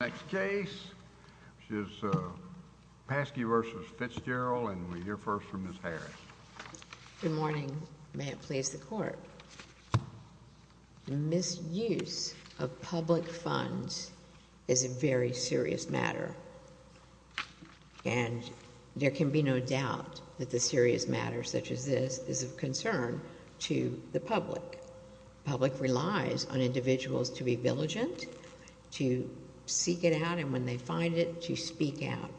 Next case is Paske v. Fitzgerald, and we hear first from Ms. Harris. Good morning. May it please the Court. Misuse of public funds is a very serious matter, and there can be no doubt that the serious matter such as this is of concern to the public. The public relies on individuals to be diligent, to seek it out, and when they find it, to speak out.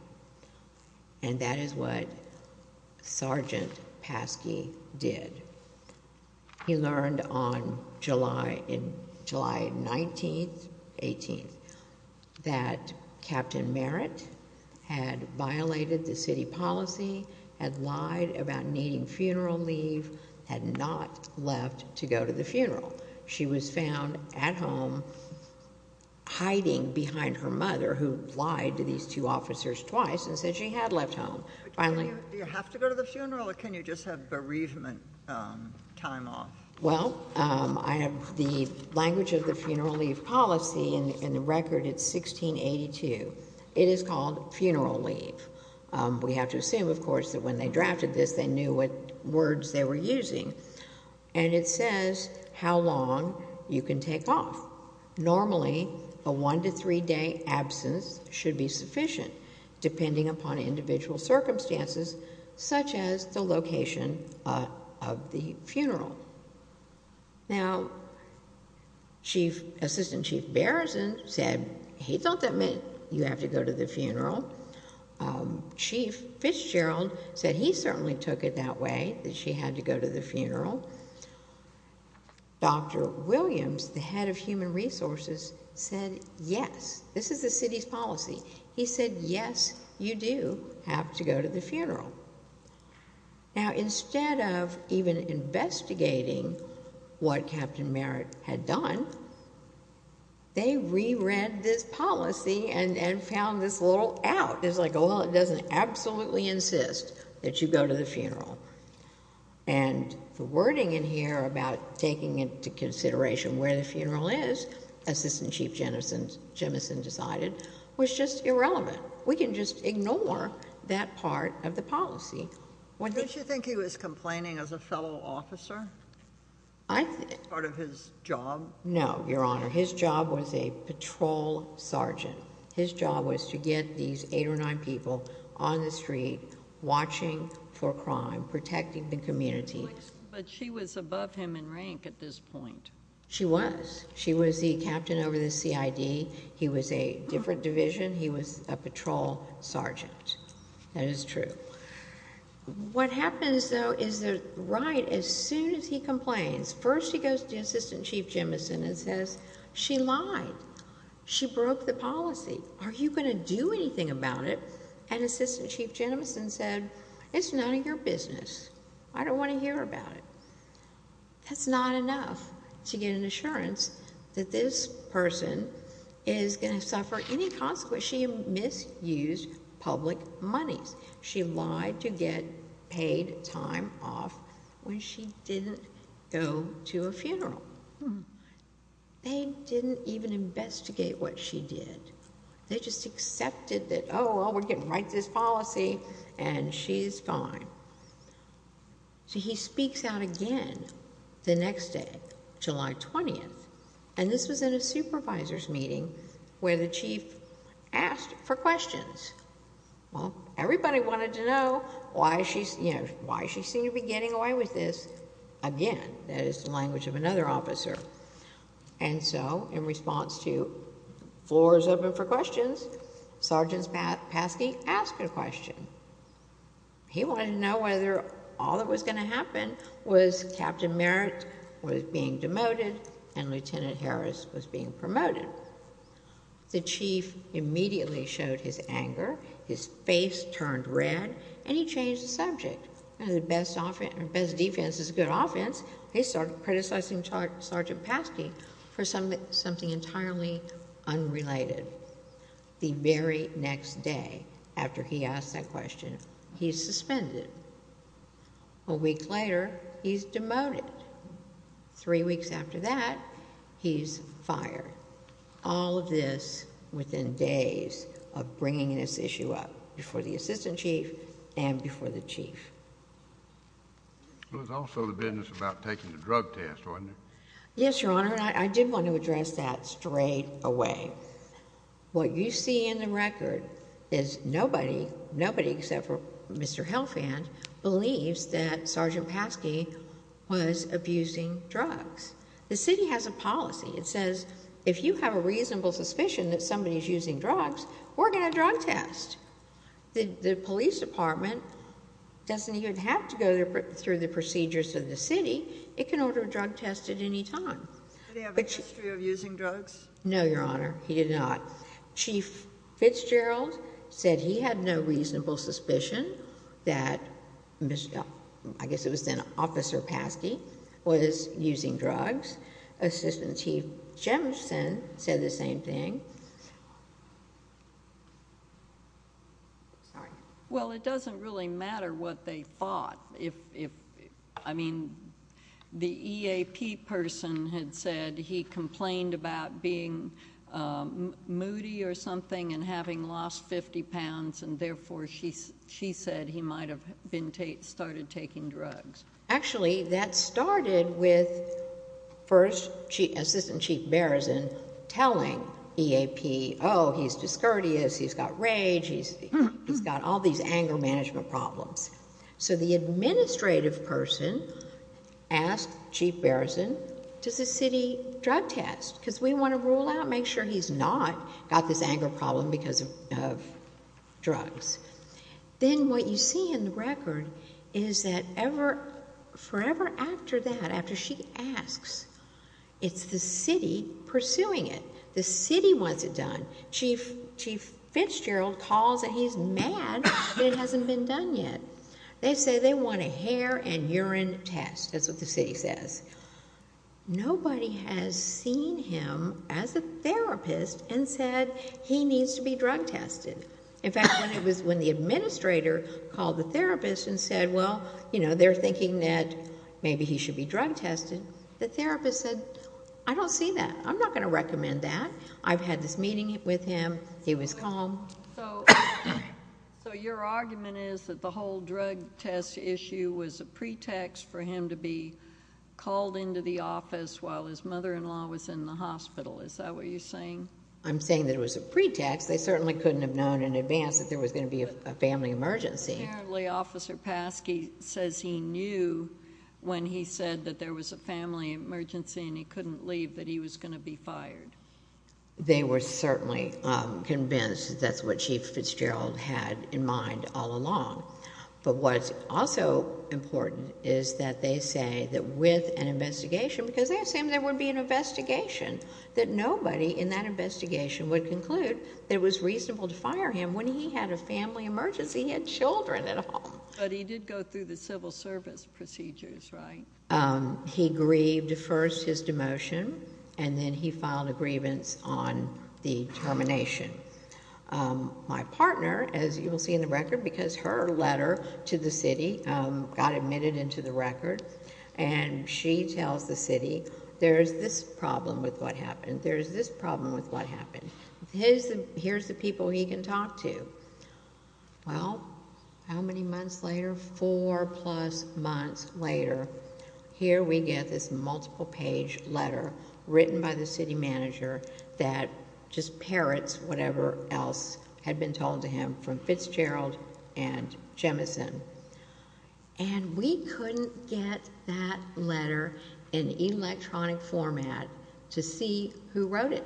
And that is what Sergeant Paske did. He learned on July 19th, 18th, that Captain Merritt had violated the city policy, had lied about needing funeral leave, had not left to go to the funeral. She was found at home hiding behind her mother, who lied to these two officers twice and said she had left home. Do you have to go to the funeral, or can you just have bereavement time off? Well, the language of the funeral leave policy in the record, it's 1682. It is called funeral leave. We have to assume, of course, that when they drafted this, they knew what words they were using, and it says how long you can take off. Normally, a one- to three-day absence should be sufficient, depending upon individual circumstances, such as the location of the funeral. Now, Assistant Chief Bereson said, hey, don't that mean you have to go to the funeral? Chief Fitzgerald said he certainly took it that way, that she had to go to the funeral. Dr. Williams, the head of human resources, said yes. This is the city's policy. He said, yes, you do have to go to the funeral. Now, instead of even investigating what Captain Merritt had done, they re-read this policy and found this little out. It's like, well, it doesn't absolutely insist that you go to the funeral. And the wording in here about taking into consideration where the funeral is, Assistant Chief Jemison decided, was just irrelevant. We can just ignore that part of the policy. Don't you think he was complaining as a fellow officer as part of his job? No, Your Honor. His job was a patrol sergeant. His job was to get these eight or nine people on the street watching for crime, protecting the community. But she was above him in rank at this point. She was. She was the captain over the CID. He was a different division. He was a patrol sergeant. That is true. What happens, though, is that right as soon as he complains, first he goes to Assistant Chief Jemison and says, she lied. She broke the policy. Are you going to do anything about it? And Assistant Chief Jemison said, it's none of your business. I don't want to hear about it. That's not enough to get an assurance that this person is going to suffer any consequences. She misused public monies. She lied to get paid time off when she didn't go to a funeral. They didn't even investigate what she did. They just accepted that, oh, well, we're getting right to this policy, and she's gone. So he speaks out again the next day, July 20th. And this was in a supervisor's meeting where the chief asked for questions. Well, everybody wanted to know why she seemed to be getting away with this again. That is the language of another officer. And so in response to, floor is open for questions, Sergeant Paskey asked a question. He wanted to know whether all that was going to happen was Captain Merritt was being demoted and Lieutenant Harris was being promoted. The chief immediately showed his anger, his face turned red, and he changed the subject. The best defense is a good offense. He started criticizing Sergeant Paskey for something entirely unrelated. The very next day after he asked that question, he's suspended. A week later, he's demoted. Three weeks after that, he's fired. All of this within days of bringing this issue up before the assistant chief and before the chief. It was also the business about taking the drug test, wasn't it? Yes, Your Honor, and I did want to address that straight away. What you see in the record is nobody, nobody except for Mr. Helfand, believes that Sergeant Paskey was abusing drugs. The city has a policy. It says if you have a reasonable suspicion that somebody's using drugs, we're going to drug test. The police department doesn't even have to go through the procedures of the city. It can order a drug test at any time. Did he have a history of using drugs? No, Your Honor, he did not. Chief Fitzgerald said he had no reasonable suspicion that, I guess it was then, Officer Paskey was using drugs. Assistant Chief Jemison said the same thing. Sorry. Well, it doesn't really matter what they thought. I mean, the EAP person had said he complained about being moody or something and having lost 50 pounds, and therefore she said he might have started taking drugs. Actually, that started with Assistant Chief Bereson telling EAP, oh, he's discourteous, he's got rage, he's got all these anger management problems. So the administrative person asked Chief Bereson, does the city drug test? Because we want to rule out, make sure he's not got this anger problem because of drugs. Then what you see in the record is that forever after that, after she asks, it's the city pursuing it. The city wants it done. Chief Fitzgerald calls and he's mad that it hasn't been done yet. They say they want a hair and urine test. That's what the city says. Nobody has seen him as a therapist and said he needs to be drug tested. In fact, when the administrator called the therapist and said, well, they're thinking that maybe he should be drug tested, the therapist said, I don't see that. I'm not going to recommend that. I've had this meeting with him. He was calm. So your argument is that the whole drug test issue was a pretext for him to be called into the office while his mother-in-law was in the hospital. Is that what you're saying? I'm saying that it was a pretext. They certainly couldn't have known in advance that there was going to be a family emergency. Apparently Officer Paskey says he knew when he said that there was a family emergency and he couldn't believe that he was going to be fired. They were certainly convinced that that's what Chief Fitzgerald had in mind all along. But what's also important is that they say that with an investigation, because they assume there would be an investigation, that nobody in that investigation would conclude that it was reasonable to fire him when he had a family emergency. He had children and all. But he did go through the civil service procedures, right? He grieved first his demotion, and then he filed a grievance on the termination. My partner, as you will see in the record, because her letter to the city got admitted into the record, and she tells the city, there's this problem with what happened. There's this problem with what happened. Here's the people he can talk to. Well, how many months later? Four-plus months later, here we get this multiple-page letter written by the city manager that just parrots whatever else had been told to him from Fitzgerald and Jemison. And we couldn't get that letter in electronic format to see who wrote it,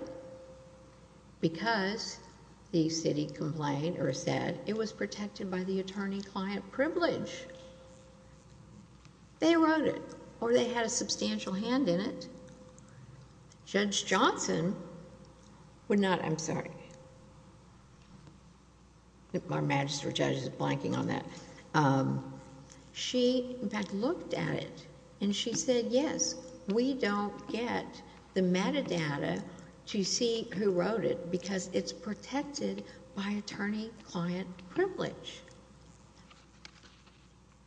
because the city complained or said it was protected by the attorney-client privilege. They wrote it, or they had a substantial hand in it. Judge Johnson would not... I'm sorry. Our magistrate judge is blanking on that. She, in fact, looked at it, and she said, yes, we don't get the metadata to see who wrote it because it's protected by attorney-client privilege.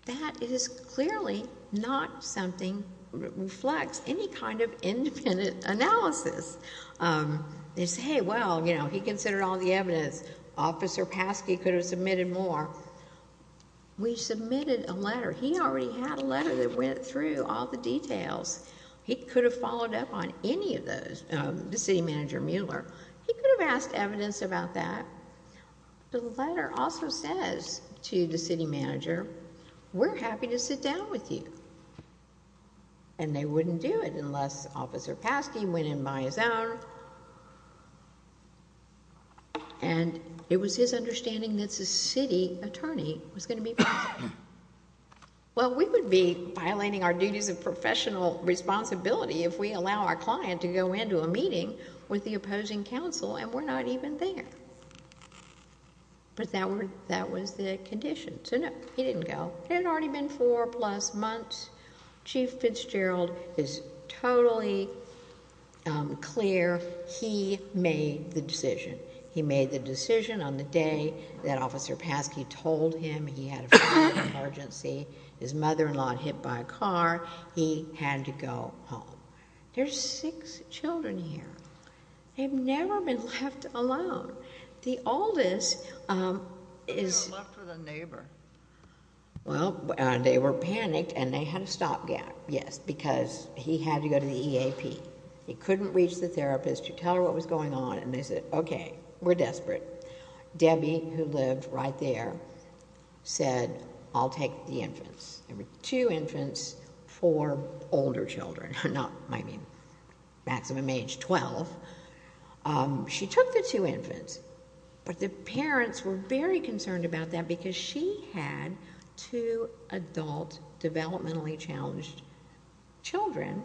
That is clearly not something that reflects any kind of independent analysis. They say, well, he considered all the evidence. Officer Paskey could have submitted more. We submitted a letter. He already had a letter that went through all the details. He could have followed up on any of those, the city manager Mueller. He could have asked evidence about that. The letter also says to the city manager, we're happy to sit down with you. And they wouldn't do it unless Officer Paskey went in by his own, and it was his understanding that the city attorney was going to be present. Well, we would be violating our duties of professional responsibility if we allow our client to go into a meeting with the opposing counsel, and we're not even there. But that was the condition. So, no, he didn't go. It had already been four-plus months. Chief Fitzgerald is totally clear. He made the decision. He made the decision on the day that Officer Paskey told him he had a fire emergency, his mother-in-law hit by a car, he had to go home. There's six children here. They've never been left alone. The oldest is... They were left with a neighbor. Well, they were panicked, and they had a stopgap, yes, because he had to go to the EAP. He couldn't reach the therapist to tell her what was going on, and they said, okay, we're desperate. Debbie, who lived right there, said, I'll take the infants. There were two infants, four older children, not, I mean, maximum age 12. She took the two infants, but the parents were very concerned about that because she had two adult developmentally challenged children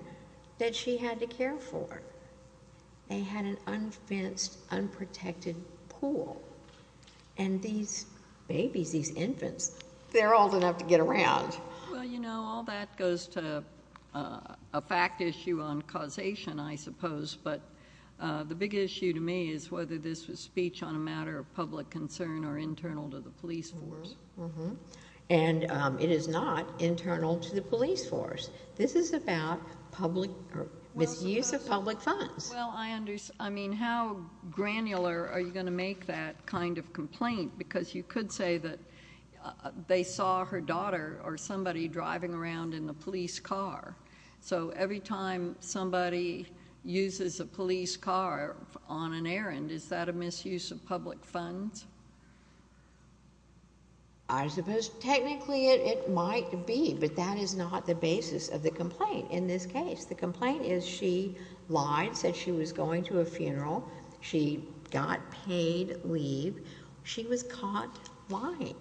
that she had to care for. They had an unfenced, unprotected pool. And these babies, these infants, they're old enough to get around. Well, you know, all that goes to a fact issue on causation, I suppose. But the big issue to me is whether this was speech on a matter of public concern or internal to the police force. And it is not internal to the police force. This is about misuse of public funds. Well, I mean, how granular are you going to make that kind of complaint? Because you could say that they saw her daughter or somebody driving around in the police car. So every time somebody uses a police car on an errand, is that a misuse of public funds? I suppose technically it might be, but that is not the basis of the complaint in this case. The complaint is she lied, said she was going to a funeral. She got paid leave. She was caught lying.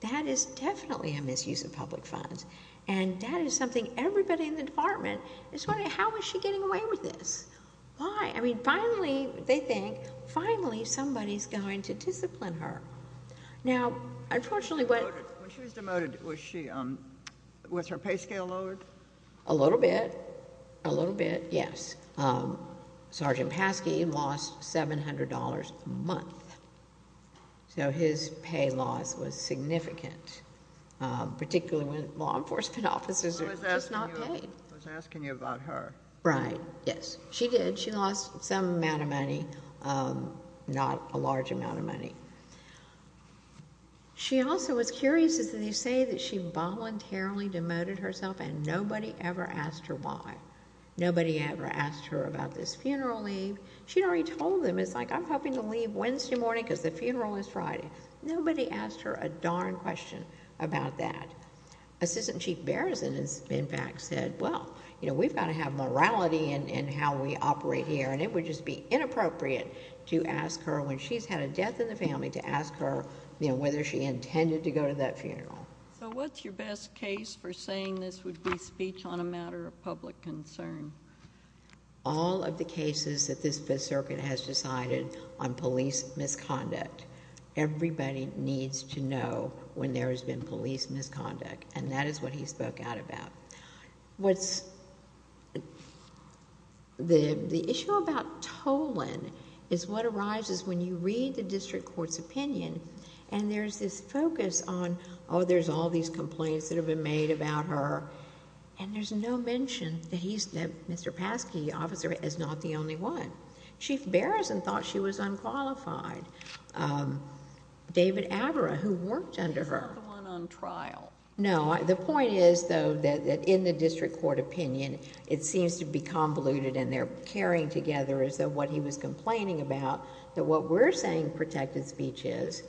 That is definitely a misuse of public funds. And that is something everybody in the department is wondering, how is she getting away with this? Why? I mean, finally, they think, finally somebody is going to discipline her. Now, unfortunately, when she was demoted, was her pay scale lowered? A little bit. A little bit, yes. Sergeant Paskey lost $700 a month. So his pay loss was significant, particularly when law enforcement officers are just not paid. I was asking you about her. Right, yes. She did. She lost some amount of money, not a large amount of money. She also was curious, as they say, that she voluntarily demoted herself and nobody ever asked her why. Nobody ever asked her about this funeral leave. She had already told them, it's like, I'm hoping to leave Wednesday morning because the funeral is Friday. Nobody asked her a darn question about that. Assistant Chief Bereson, in fact, said, well, you know, we've got to have morality in how we operate here, and it would just be inappropriate to ask her when she's had a death in the family to ask her, you know, whether she intended to go to that funeral. So what's your best case for saying this would be speech on a matter of public concern? All of the cases that this Fifth Circuit has decided on police misconduct. Everybody needs to know when there has been police misconduct, and that is what he spoke out about. The issue about tolling is what arises when you read the district court's opinion, and there's this focus on, oh, there's all these complaints that have been made about her, and there's no mention that Mr. Paske, the officer, is not the only one. Chief Bereson thought she was unqualified. David Avra, who worked under her. He's not the one on trial. No. The point is, though, that in the district court opinion, it seems to be convoluted, and they're carrying together as though what he was complaining about, that what we're saying protected speech is,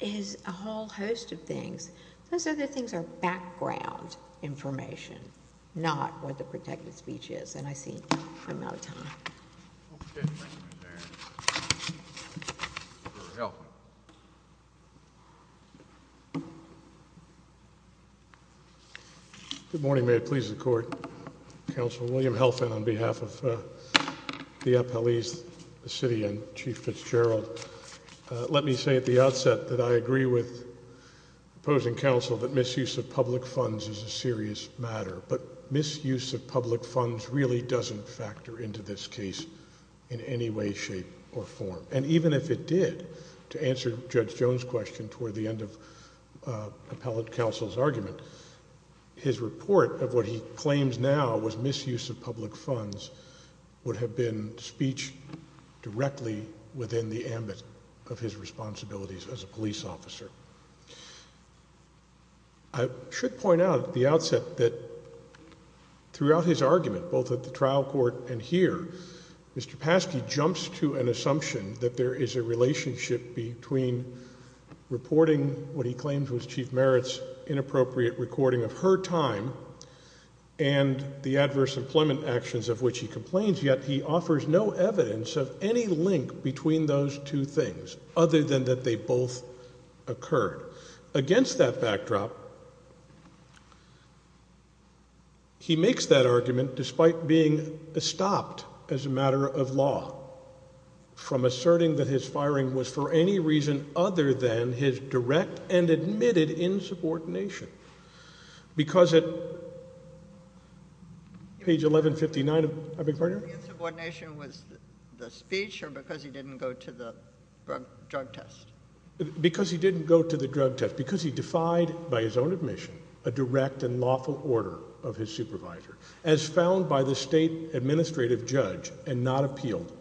is a whole host of things. Those other things are background information, not what the protected speech is. And I see I'm out of time. Good morning. Good morning. May it please the Court. Counsel William Helfand on behalf of the appellees, the city and Chief Fitzgerald. Let me say at the outset that I agree with opposing counsel that misuse of public funds is a serious matter, but misuse of public funds really doesn't factor into this case in any way, shape, or form. And even if it did, to answer Judge Jones' question toward the end of appellate counsel's argument, his report of what he claims now was misuse of public funds would have been speech directly within the ambit of his responsibilities as a police officer. I should point out at the outset that throughout his argument, both at the trial court and here, Mr. Paske jumps to an assumption that there is a relationship between reporting what he claims was Chief Merritt's inappropriate recording of her time and the adverse employment actions of which he complains, yet he offers no evidence of any link between those two things, other than that they both occurred. Against that backdrop, he makes that argument, despite being stopped as a matter of law, from asserting that his firing was for any reason other than his direct and admitted insubordination, because at page 1159, I beg your pardon? Insubordination was the speech or because he didn't go to the drug test? Because he didn't go to the drug test. Because he defied, by his own admission, a direct and lawful order of his supervisor, as found by the state administrative judge and not appealed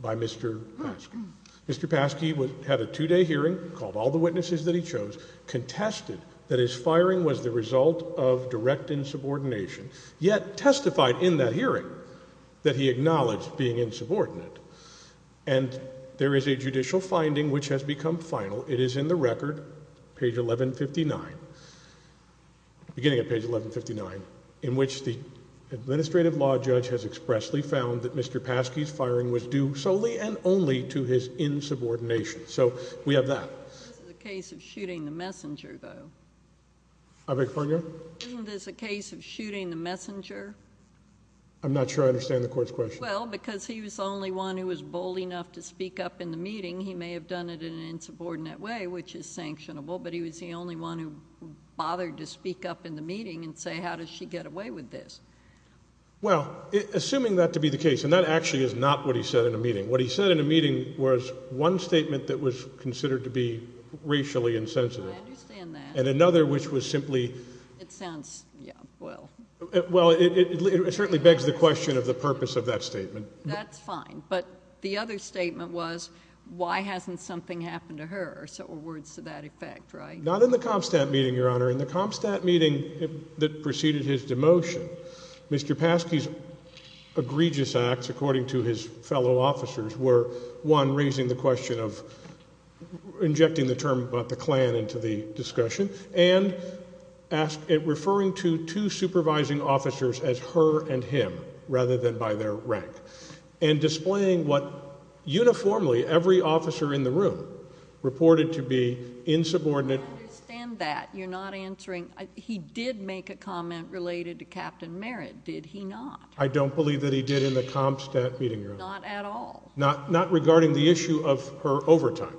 by Mr. Paske. Mr. Paske had a two-day hearing, called all the witnesses that he chose, contested that his firing was the result of direct insubordination, yet testified in that hearing that he acknowledged being insubordinate. And there is a judicial finding which has become final. It is in the record, page 1159, beginning at page 1159, in which the administrative law judge has expressly found that Mr. Paske's firing was due solely and only to his insubordination. So we have that. This is a case of shooting the messenger, though. I beg your pardon, Your Honor? Isn't this a case of shooting the messenger? I'm not sure I understand the court's question. Well, because he was the only one who was bold enough to speak up in the meeting, he may have done it in an insubordinate way, which is sanctionable, but he was the only one who bothered to speak up in the meeting and say, how does she get away with this? Well, assuming that to be the case, and that actually is not what he said in a meeting, what he said in a meeting was one statement that was considered to be racially insensitive. I understand that. And another, which was simply... It sounds, yeah, well... Well, it certainly begs the question of the purpose of that statement. That's fine. But the other statement was, why hasn't something happened to her, or words to that effect, right? Not in the CompStat meeting, Your Honor. In the CompStat meeting that preceded his demotion, Mr. Paske's egregious acts, according to his fellow officers, were, one, raising the question of injecting the term about the Klan into the discussion and referring to two supervising officers as her and him rather than by their rank and displaying what uniformly every officer in the room reported to be insubordinate. I understand that. You're not answering. He did make a comment related to Captain Merritt, did he not? I don't believe that he did in the CompStat meeting, Your Honor. Not at all? Not regarding the issue of her overtime,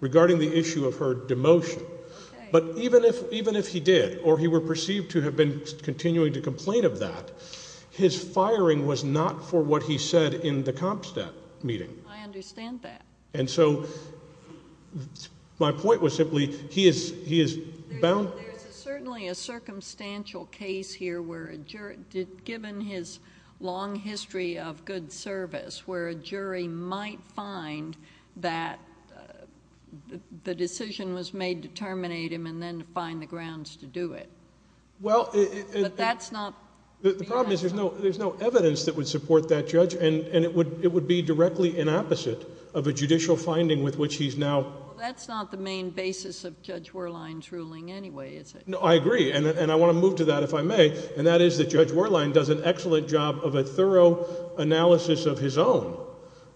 regarding the issue of her demotion. Okay. But even if he did or he were perceived to have been continuing to complain of that, his firing was not for what he said in the CompStat meeting. I understand that. And so my point was simply he is bound. There's certainly a circumstantial case here where a jury, given his long history of good service, where a jury might find that the decision was made to terminate him and then to find the grounds to do it. But that's not... The problem is there's no evidence that would support that judge and it would be directly inopposite of a judicial finding with which he's now... Well, that's not the main basis of Judge Werlein's ruling anyway, is it? No, I agree, and I want to move to that if I may, and that is that Judge Werlein does an excellent job of a thorough analysis of his own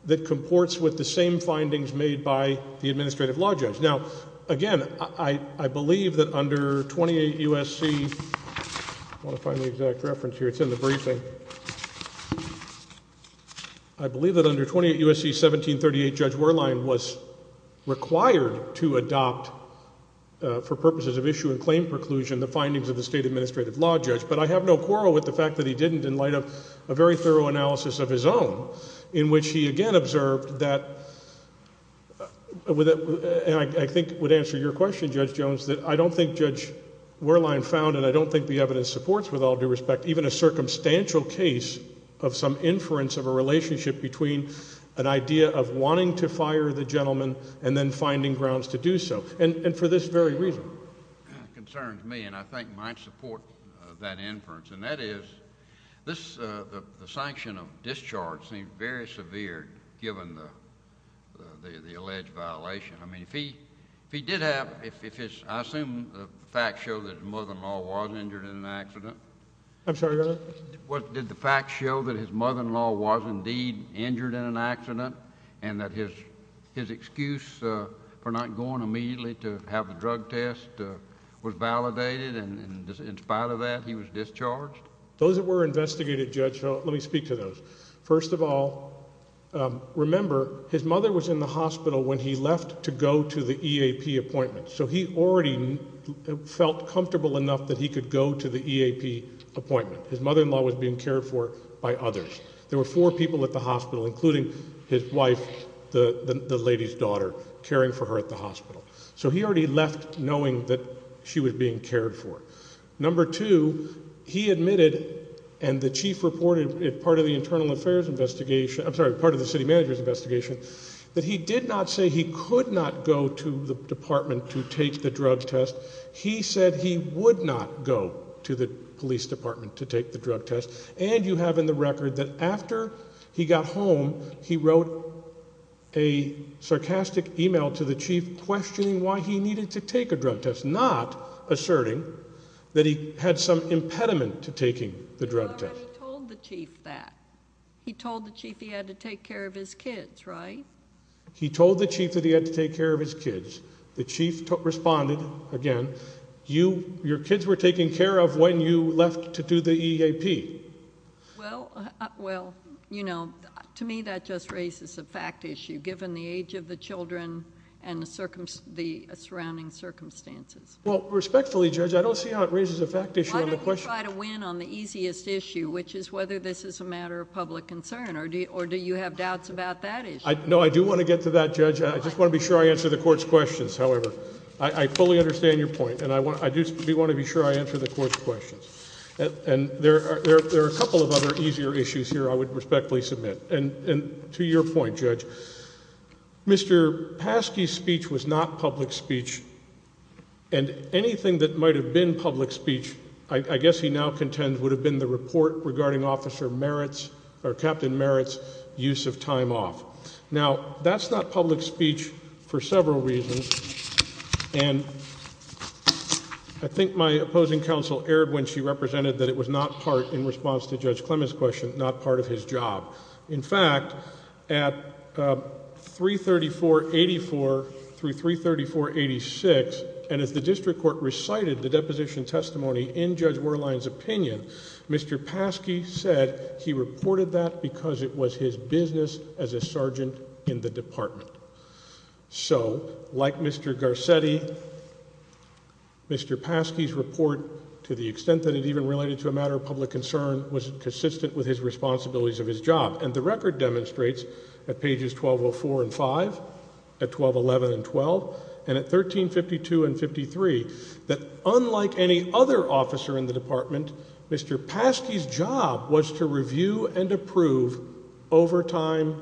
that comports with the same findings made by the administrative law judge. Now, again, I believe that under 28 U.S.C.... I want to find the exact reference here. It's in the briefing. I believe that under 28 U.S.C. 1738, Judge Werlein was required to adopt for purposes of issue and claim preclusion the findings of the state administrative law judge, but I have no quarrel with the fact that he didn't in light of a very thorough analysis of his own in which he again observed that... and I think it would answer your question, Judge Jones, that I don't think Judge Werlein found, and I don't think the evidence supports with all due respect, even a circumstantial case of some inference of a relationship between an idea of wanting to fire the gentleman and then finding grounds to do so, and for this very reason. It concerns me, and I think might support that inference, and that is the sanction of discharge seems very severe given the alleged violation. I mean, if he did have... I assume the facts show that his mother-in-law was injured in an accident. I'm sorry, Your Honor? Did the facts show that his mother-in-law was indeed injured in an accident and that his excuse for not going immediately to have the drug test was validated, and in spite of that he was discharged? Those that were investigated, Judge, let me speak to those. First of all, remember his mother was in the hospital when he left to go to the EAP appointment, so he already felt comfortable enough that he could go to the EAP appointment. His mother-in-law was being cared for by others. There were four people at the hospital, including his wife, the lady's daughter, caring for her at the hospital. So he already left knowing that she was being cared for. Number two, he admitted, and the chief reported, part of the city manager's investigation, that he did not say he could not go to the department to take the drug test. He said he would not go to the police department to take the drug test, and you have in the record that after he got home he wrote a sarcastic e-mail to the chief questioning why he needed to take a drug test, not asserting that he had some impediment to taking the drug test. He already told the chief that. He told the chief he had to take care of his kids, right? He told the chief that he had to take care of his kids. The chief responded, again, your kids were taken care of when you left to do the EAP. Well, you know, to me that just raises a fact issue, given the age of the children and the surrounding circumstances. Well, respectfully, Judge, I don't see how it raises a fact issue. Why don't you try to win on the easiest issue, which is whether this is a matter of public concern, or do you have doubts about that issue? No, I do want to get to that, Judge. I just want to be sure I answer the Court's questions. However, I fully understand your point, and I do want to be sure I answer the Court's questions. And there are a couple of other easier issues here I would respectfully submit. And to your point, Judge, Mr. Paske's speech was not public speech, and anything that might have been public speech, I guess he now contends, would have been the report regarding Captain Merritt's use of time off. Now, that's not public speech for several reasons, and I think my opposing counsel erred when she represented that it was not part, in response to Judge Clement's question, not part of his job. In fact, at 334-84 through 334-86, and as the District Court recited the deposition testimony in Judge Werlein's opinion, Mr. Paske said he reported that because it was his business as a sergeant in the Department. So, like Mr. Garcetti, Mr. Paske's report, to the extent that it even related to a matter of public concern, was consistent with his responsibilities of his job. And the record demonstrates, at pages 1204 and 5, at 1211 and 12, and at 1352 and 53, that unlike any other officer in the Department, Mr. Paske's job was to review and approve overtime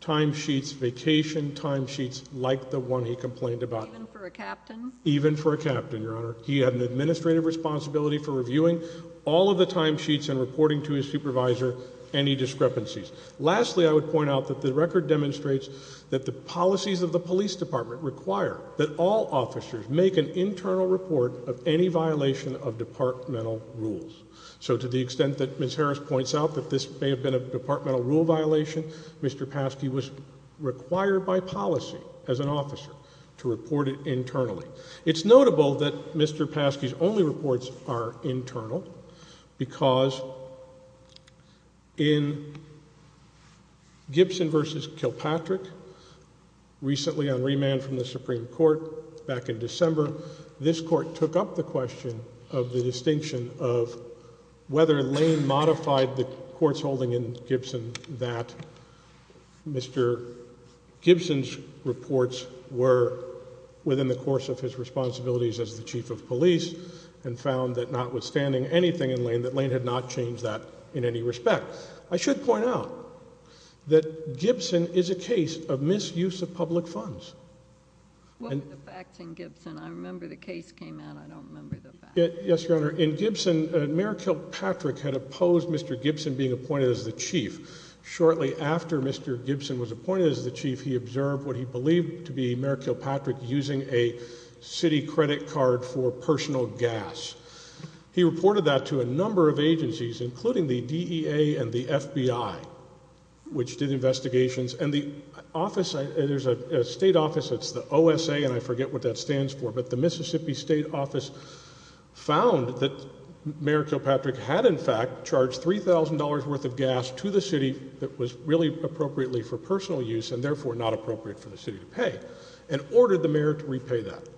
timesheets, vacation timesheets, like the one he complained about. Even for a captain? Even for a captain, Your Honor. He had an administrative responsibility for reviewing all of the timesheets and reporting to his supervisor any discrepancies. Lastly, I would point out that the record demonstrates that the policies of the Police Department require that all officers make an internal report of any violation of departmental rules. So to the extent that Ms. Harris points out that this may have been a departmental rule violation, Mr. Paske was required by policy as an officer to report it internally. It's notable that Mr. Paske's only reports are internal because in Gibson v. Kilpatrick, recently on remand from the Supreme Court back in December, this Court took up the question of the distinction of whether Lane modified the courts holding in Gibson that Mr. Gibson's reports were within the course of his responsibilities as the Chief of Police and found that notwithstanding anything in Lane, that Lane had not changed that in any respect. I should point out that Gibson is a case of misuse of public funds. What were the facts in Gibson? I remember the case came out. I don't remember the facts. Yes, Your Honor. In Gibson, Mayor Kilpatrick had opposed Mr. Gibson being appointed as the Chief. Shortly after Mr. Gibson was appointed as the Chief, he observed what he believed to be Mayor Kilpatrick using a city credit card for personal gas. He reported that to a number of agencies, including the DEA and the FBI, which did investigations. And the office, there's a state office, it's the OSA, and I forget what that stands for, but the Mississippi State Office found that Mayor Kilpatrick had in fact charged $3,000 worth of gas to the city that was really appropriately for personal use and therefore not appropriate for the city to pay and ordered the mayor to repay that.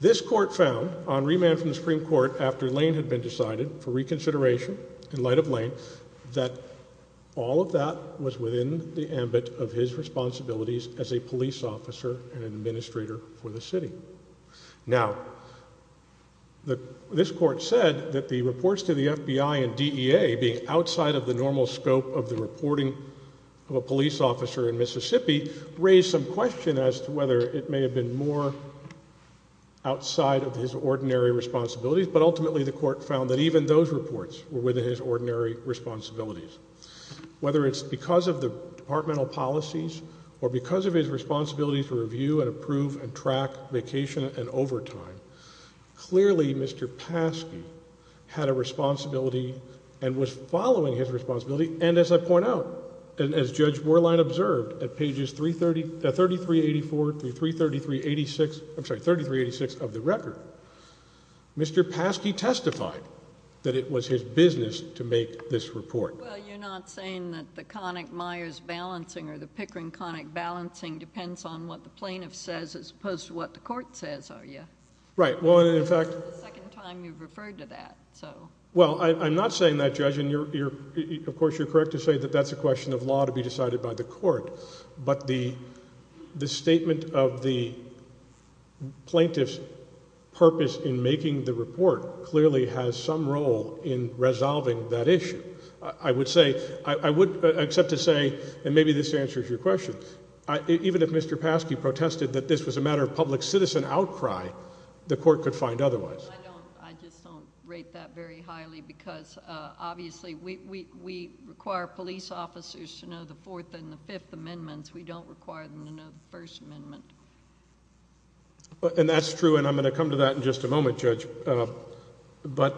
This court found on remand from the Supreme Court after Lane had been decided for reconsideration in light of Lane that all of that was within the ambit of his responsibilities as a police officer and administrator for the city. Now, this court said that the reports to the FBI and DEA being outside of the normal scope of the reporting of a police officer in Mississippi raised some question as to whether it may have been more outside of his ordinary responsibilities, but ultimately the court found that even those reports were within his ordinary responsibilities. Whether it's because of the departmental policies or because of his responsibility to review and approve and track vacation and overtime, clearly Mr. Paskey had a responsibility and was following his responsibility. And as I point out, as Judge Borlein observed at pages 3384 through 3386, I'm sorry, 3386 of the record, Mr. Paskey testified that it was his business to make this report. Well, you're not saying that the Connick-Meyers balancing or the Pickering-Connick balancing depends on what the plaintiff says as opposed to what the court says, are you? Right. Well, in fact— This is the second time you've referred to that, so— Well, I'm not saying that, Judge, and of course you're correct to say that that's a question of law to be decided by the court, but the statement of the plaintiff's purpose in making the report clearly has some role in resolving that issue. I would say—I would accept to say, and maybe this answers your question, even if Mr. Paskey protested that this was a matter of public citizen outcry, the court could find otherwise. I just don't rate that very highly because obviously we require police officers to know the Fourth and the Fifth Amendments. We don't require them to know the First Amendment. And that's true, and I'm going to come to that in just a moment, Judge, but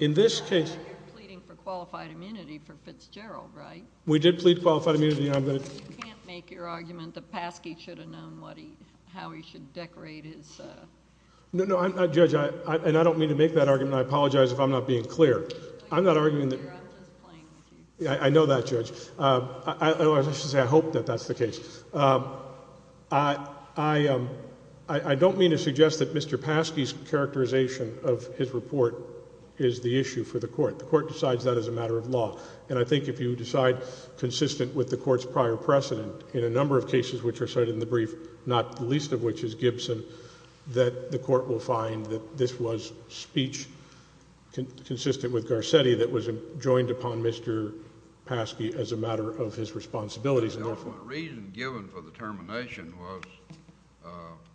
in this case— You're pleading for qualified immunity for Fitzgerald, right? We did plead qualified immunity, and I'm going to— You can't make your argument that Paskey should have known what he—how he should decorate his— No, no, I'm not, Judge, and I don't mean to make that argument. I apologize if I'm not being clear. I'm not arguing that— I'm just playing with you. I know that, Judge. I should say I hope that that's the case. I don't mean to suggest that Mr. Paskey's characterization of his report is the issue for the court. The court decides that as a matter of law, and I think if you decide consistent with the court's prior precedent, in a number of cases which are cited in the brief, not the least of which is Gibson, that the court will find that this was speech consistent with Garcetti that was joined upon Mr. Paskey as a matter of his responsibilities. The reason given for the termination was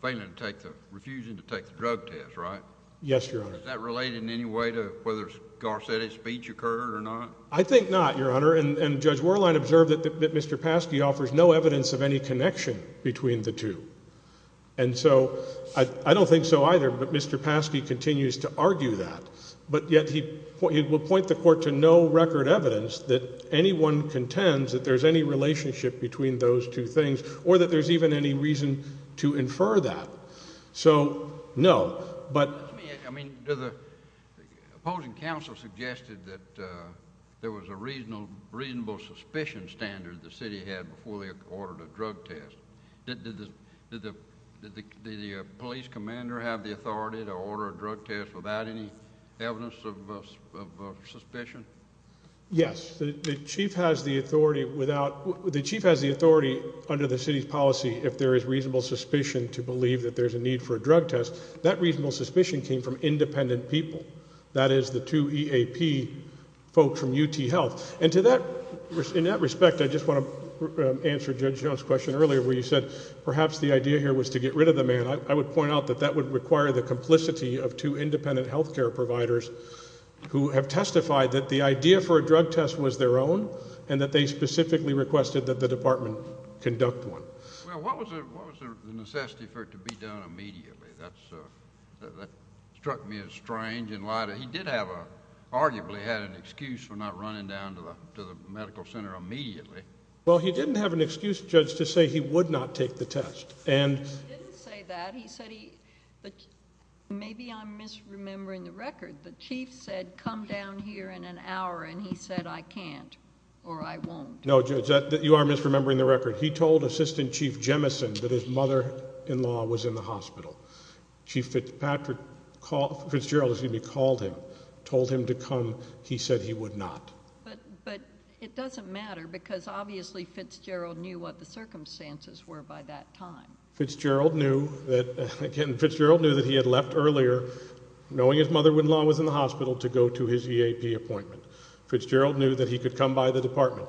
failing to take the—refusing to take the drug test, right? Yes, Your Honor. Does that relate in any way to whether Garcetti's speech occurred or not? I think not, Your Honor, and Judge Worlein observed that Mr. Paskey offers no evidence of any connection between the two, and so I don't think so either, but Mr. Paskey continues to argue that, but yet he will point the court to no record evidence that anyone contends that there's any relationship between those two things or that there's even any reason to infer that. So, no, but— I mean, the opposing counsel suggested that there was a reasonable suspicion standard the city had before they ordered a drug test. Did the police commander have the authority to order a drug test without any evidence of suspicion? Yes. The chief has the authority without—the chief has the authority under the city's policy if there is reasonable suspicion to believe that there's a need for a drug test. That reasonable suspicion came from independent people, that is the two EAP folks from UT Health, and to that—in that respect, I just want to answer Judge Jones' question earlier where you said perhaps the idea here was to get rid of the man. I would point out that that would require the complicity of two independent health care providers who have testified that the idea for a drug test was their own and that they specifically requested that the department conduct one. Well, what was the necessity for it to be done immediately? That struck me as strange. He did have a—arguably had an excuse for not running down to the medical center immediately. Well, he didn't have an excuse, Judge, to say he would not take the test. He didn't say that. He said he—but maybe I'm misremembering the record. The chief said come down here in an hour, and he said I can't or I won't. No, Judge, you are misremembering the record. He told Assistant Chief Jemison that his mother-in-law was in the hospital. Chief Fitzpatrick called—Fitzgerald, excuse me, called him, told him to come. He said he would not. But it doesn't matter because obviously Fitzgerald knew what the circumstances were by that time. Fitzgerald knew that—again, Fitzgerald knew that he had left earlier, knowing his mother-in-law was in the hospital, to go to his EAP appointment. Fitzgerald knew that he could come by the department.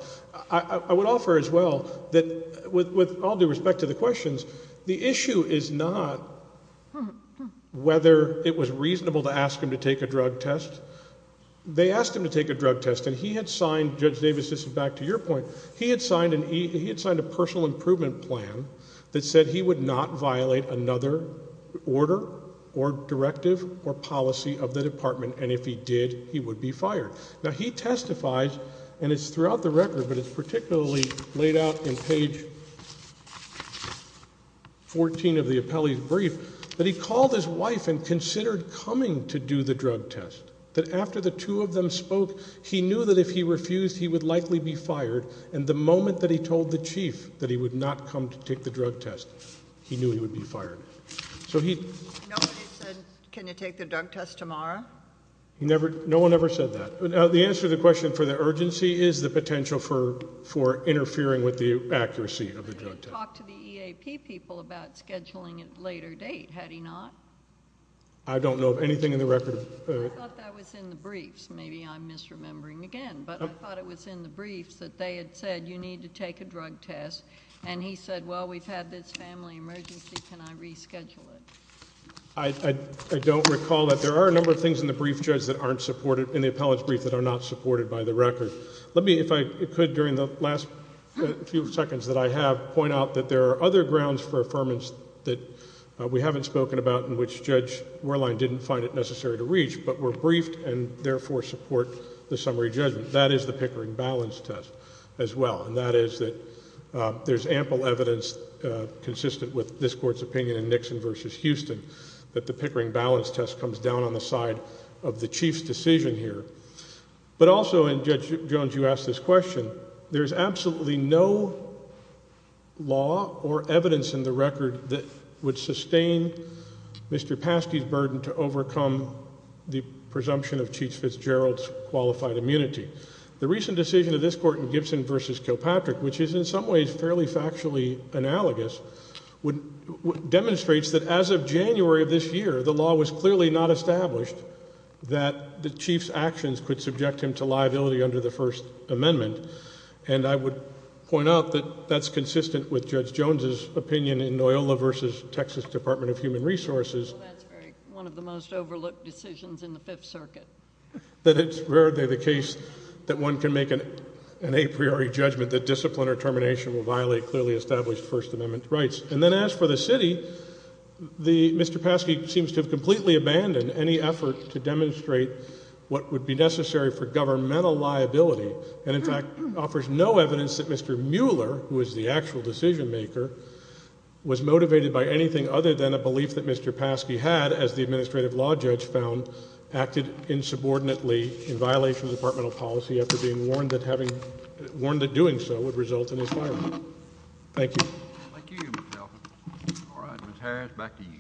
I would offer as well that with all due respect to the questions, the issue is not whether it was reasonable to ask him to take a drug test. They asked him to take a drug test, and he had signed—Judge Davis, this is back to your point. He had signed a personal improvement plan that said he would not violate another order or directive or policy of the department, and if he did, he would be fired. Now, he testifies, and it's throughout the record, but it's particularly laid out in page 14 of the appellee's brief, that he called his wife and considered coming to do the drug test, that after the two of them spoke, he knew that if he refused, he would likely be fired, and the moment that he told the chief that he would not come to take the drug test, he knew he would be fired. So he— Nobody said, can you take the drug test tomorrow? No one ever said that. The answer to the question for the urgency is the potential for interfering with the accuracy of the drug test. But he talked to the EAP people about scheduling it later date, had he not? I don't know of anything in the record of— I thought that was in the briefs. Maybe I'm misremembering again, but I thought it was in the briefs that they had said, you need to take a drug test, and he said, well, we've had this family emergency. Can I reschedule it? I don't recall that. There are a number of things in the brief, Judge, that aren't supported—in the appellant's brief that are not supported by the record. Let me, if I could, during the last few seconds that I have, point out that there are other grounds for affirmance that we haven't spoken about and which Judge Wehrlein didn't find it necessary to reach, but were briefed and therefore support the summary judgment. That is the Pickering balance test as well, and that is that there's ample evidence consistent with this Court's opinion in Nixon v. Houston that the Pickering balance test comes down on the side of the Chief's decision here. But also, and Judge Jones, you asked this question, there's absolutely no law or evidence in the record that would sustain Mr. Paskey's burden to overcome the presumption of Chief Fitzgerald's qualified immunity. The recent decision of this Court in Gibson v. Kilpatrick, which is in some ways fairly factually analogous, demonstrates that as of January of this year, the law was clearly not established that the Chief's actions could subject him to liability under the First Amendment. And I would point out that that's consistent with Judge Jones' opinion in Noyola v. Texas Department of Human Resources— Well, that's one of the most overlooked decisions in the Fifth Circuit. —that it's rarely the case that one can make an a priori judgment that discipline or termination will violate clearly established First Amendment rights. And then as for the city, Mr. Paskey seems to have completely abandoned any effort to demonstrate what would be necessary for governmental liability and in fact offers no evidence that Mr. Mueller, who is the actual decision maker, was motivated by anything other than a belief that Mr. Paskey had, as the administrative law judge found, acted insubordinately in violation of departmental policy after being warned that having—warned that doing so would result in his firing. Thank you. Thank you, Mr. Elfin. All right. Ms. Harris, back to you.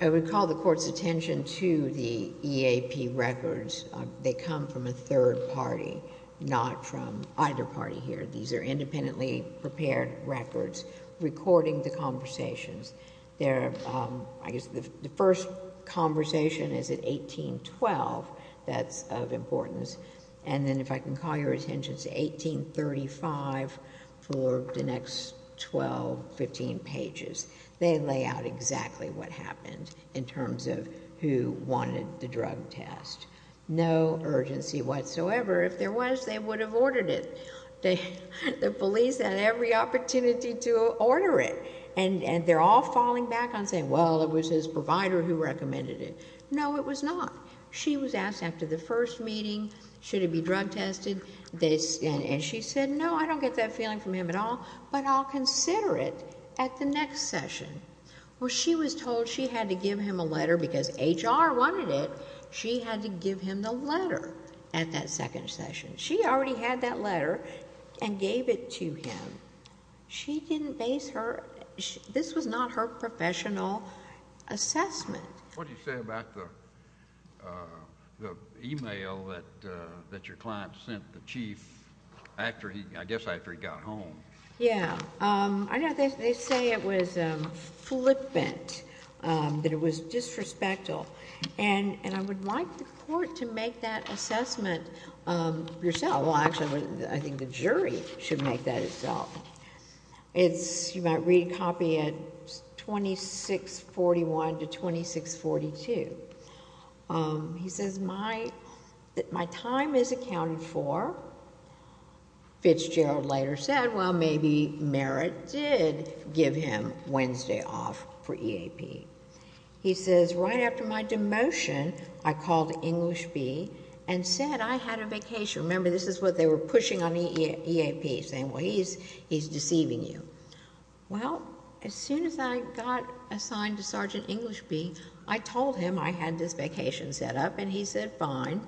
I would call the Court's attention to the EAP records. They come from a third party, not from either party here. These are independently prepared records recording the conversations. I guess the first conversation is at 1812. That's of importance. And then if I can call your attention to 1835 for the next 12, 15 pages. They lay out exactly what happened in terms of who wanted the drug test. No urgency whatsoever. If there was, they would have ordered it. The police had every opportunity to order it. And they're all falling back on saying, well, it was his provider who recommended it. No, it was not. She was asked after the first meeting, should it be drug tested, and she said, no, I don't get that feeling from him at all, but I'll consider it at the next session. Well, she was told she had to give him a letter because HR wanted it. She had to give him the letter at that second session. She already had that letter and gave it to him. She didn't base her, this was not her professional assessment. What did you say about the email that your client sent the chief after he, I guess after he got home? Yeah. I know they say it was flippant, that it was disrespectful. And I would like the court to make that assessment yourself. Well, actually, I think the jury should make that itself. You might read a copy at 2641 to 2642. He says, my time is accounted for. Fitzgerald later said, well, maybe Merritt did give him Wednesday off for EAP. He says, right after my demotion, I called English Bee and said I had a vacation. Remember, this is what they were pushing on EAP, saying, well, he's deceiving you. Well, as soon as I got assigned to Sergeant English Bee, I told him I had this vacation set up, and he said fine.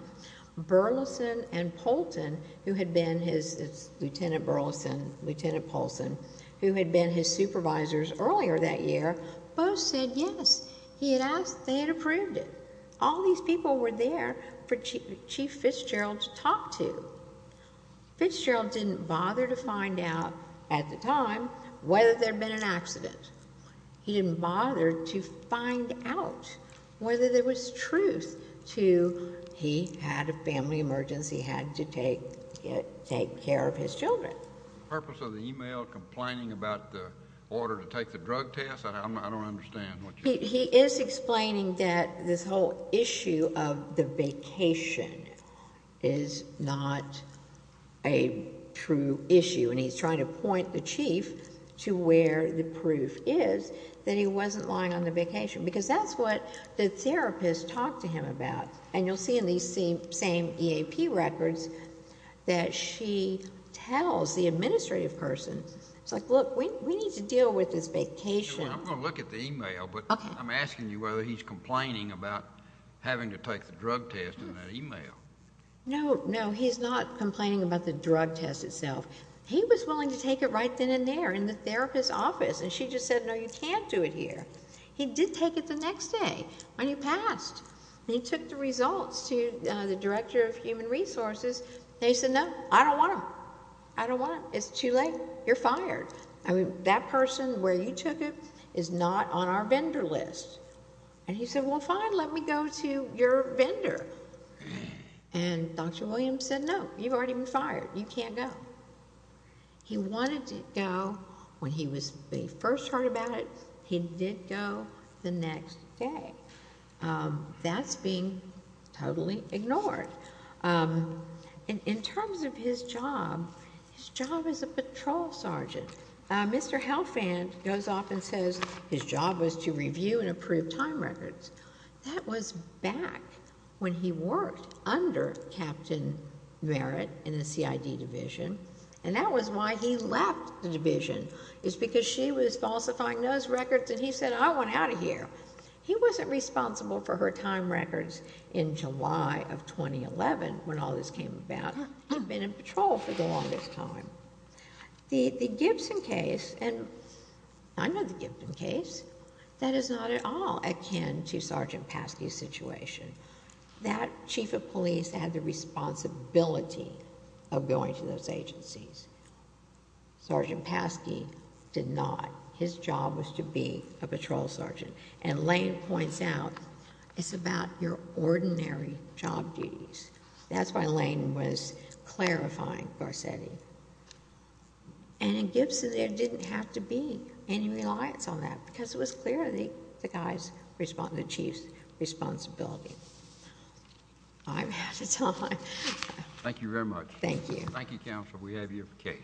Burleson and Poulton, who had been his, it's Lieutenant Burleson, Lieutenant Poulson, who had been his supervisors earlier that year, both said yes. They had approved it. All these people were there for Chief Fitzgerald to talk to. Fitzgerald didn't bother to find out at the time whether there had been an accident. He didn't bother to find out whether there was truth to he had a family emergency, had to take care of his children. The purpose of the email, complaining about the order to take the drug test, I don't understand. He is explaining that this whole issue of the vacation is not a true issue, and he's trying to point the Chief to where the proof is that he wasn't lying on the vacation, because that's what the therapist talked to him about. And you'll see in these same EAP records that she tells the administrative person, it's like, look, we need to deal with this vacation. I'm going to look at the email, but I'm asking you whether he's complaining about having to take the drug test in that email. No, no, he's not complaining about the drug test itself. He was willing to take it right then and there in the therapist's office, and she just said, no, you can't do it here. He did take it the next day when he passed, and he took the results to the Director of Human Resources, and he said, no, I don't want them. I don't want them. It's too late. You're fired. That person where you took it is not on our vendor list. And he said, well, fine, let me go to your vendor. And Dr. Williams said, no, you've already been fired. You can't go. He wanted to go when he first heard about it. He did go the next day. That's being totally ignored. In terms of his job, his job as a patrol sergeant, Mr. Helfand goes off and says his job was to review and approve time records. That was back when he worked under Captain Merritt in the CID Division, and that was why he left the division. It's because she was falsifying those records, and he said, I want out of here. He wasn't responsible for her time records in July of 2011 when all this came about. He'd been in patrol for the longest time. The Gibson case, and I know the Gibson case, that is not at all akin to Sergeant Paskey's situation. That chief of police had the responsibility of going to those agencies. Sergeant Paskey did not. His job was to be a patrol sergeant. And Lane points out, it's about your ordinary job duties. That's why Lane was clarifying Garcetti. And in Gibson, there didn't have to be any reliance on that because it was clear the chief's responsibility. I'm out of time. Thank you very much. Thank you. Thank you, counsel. We have your case.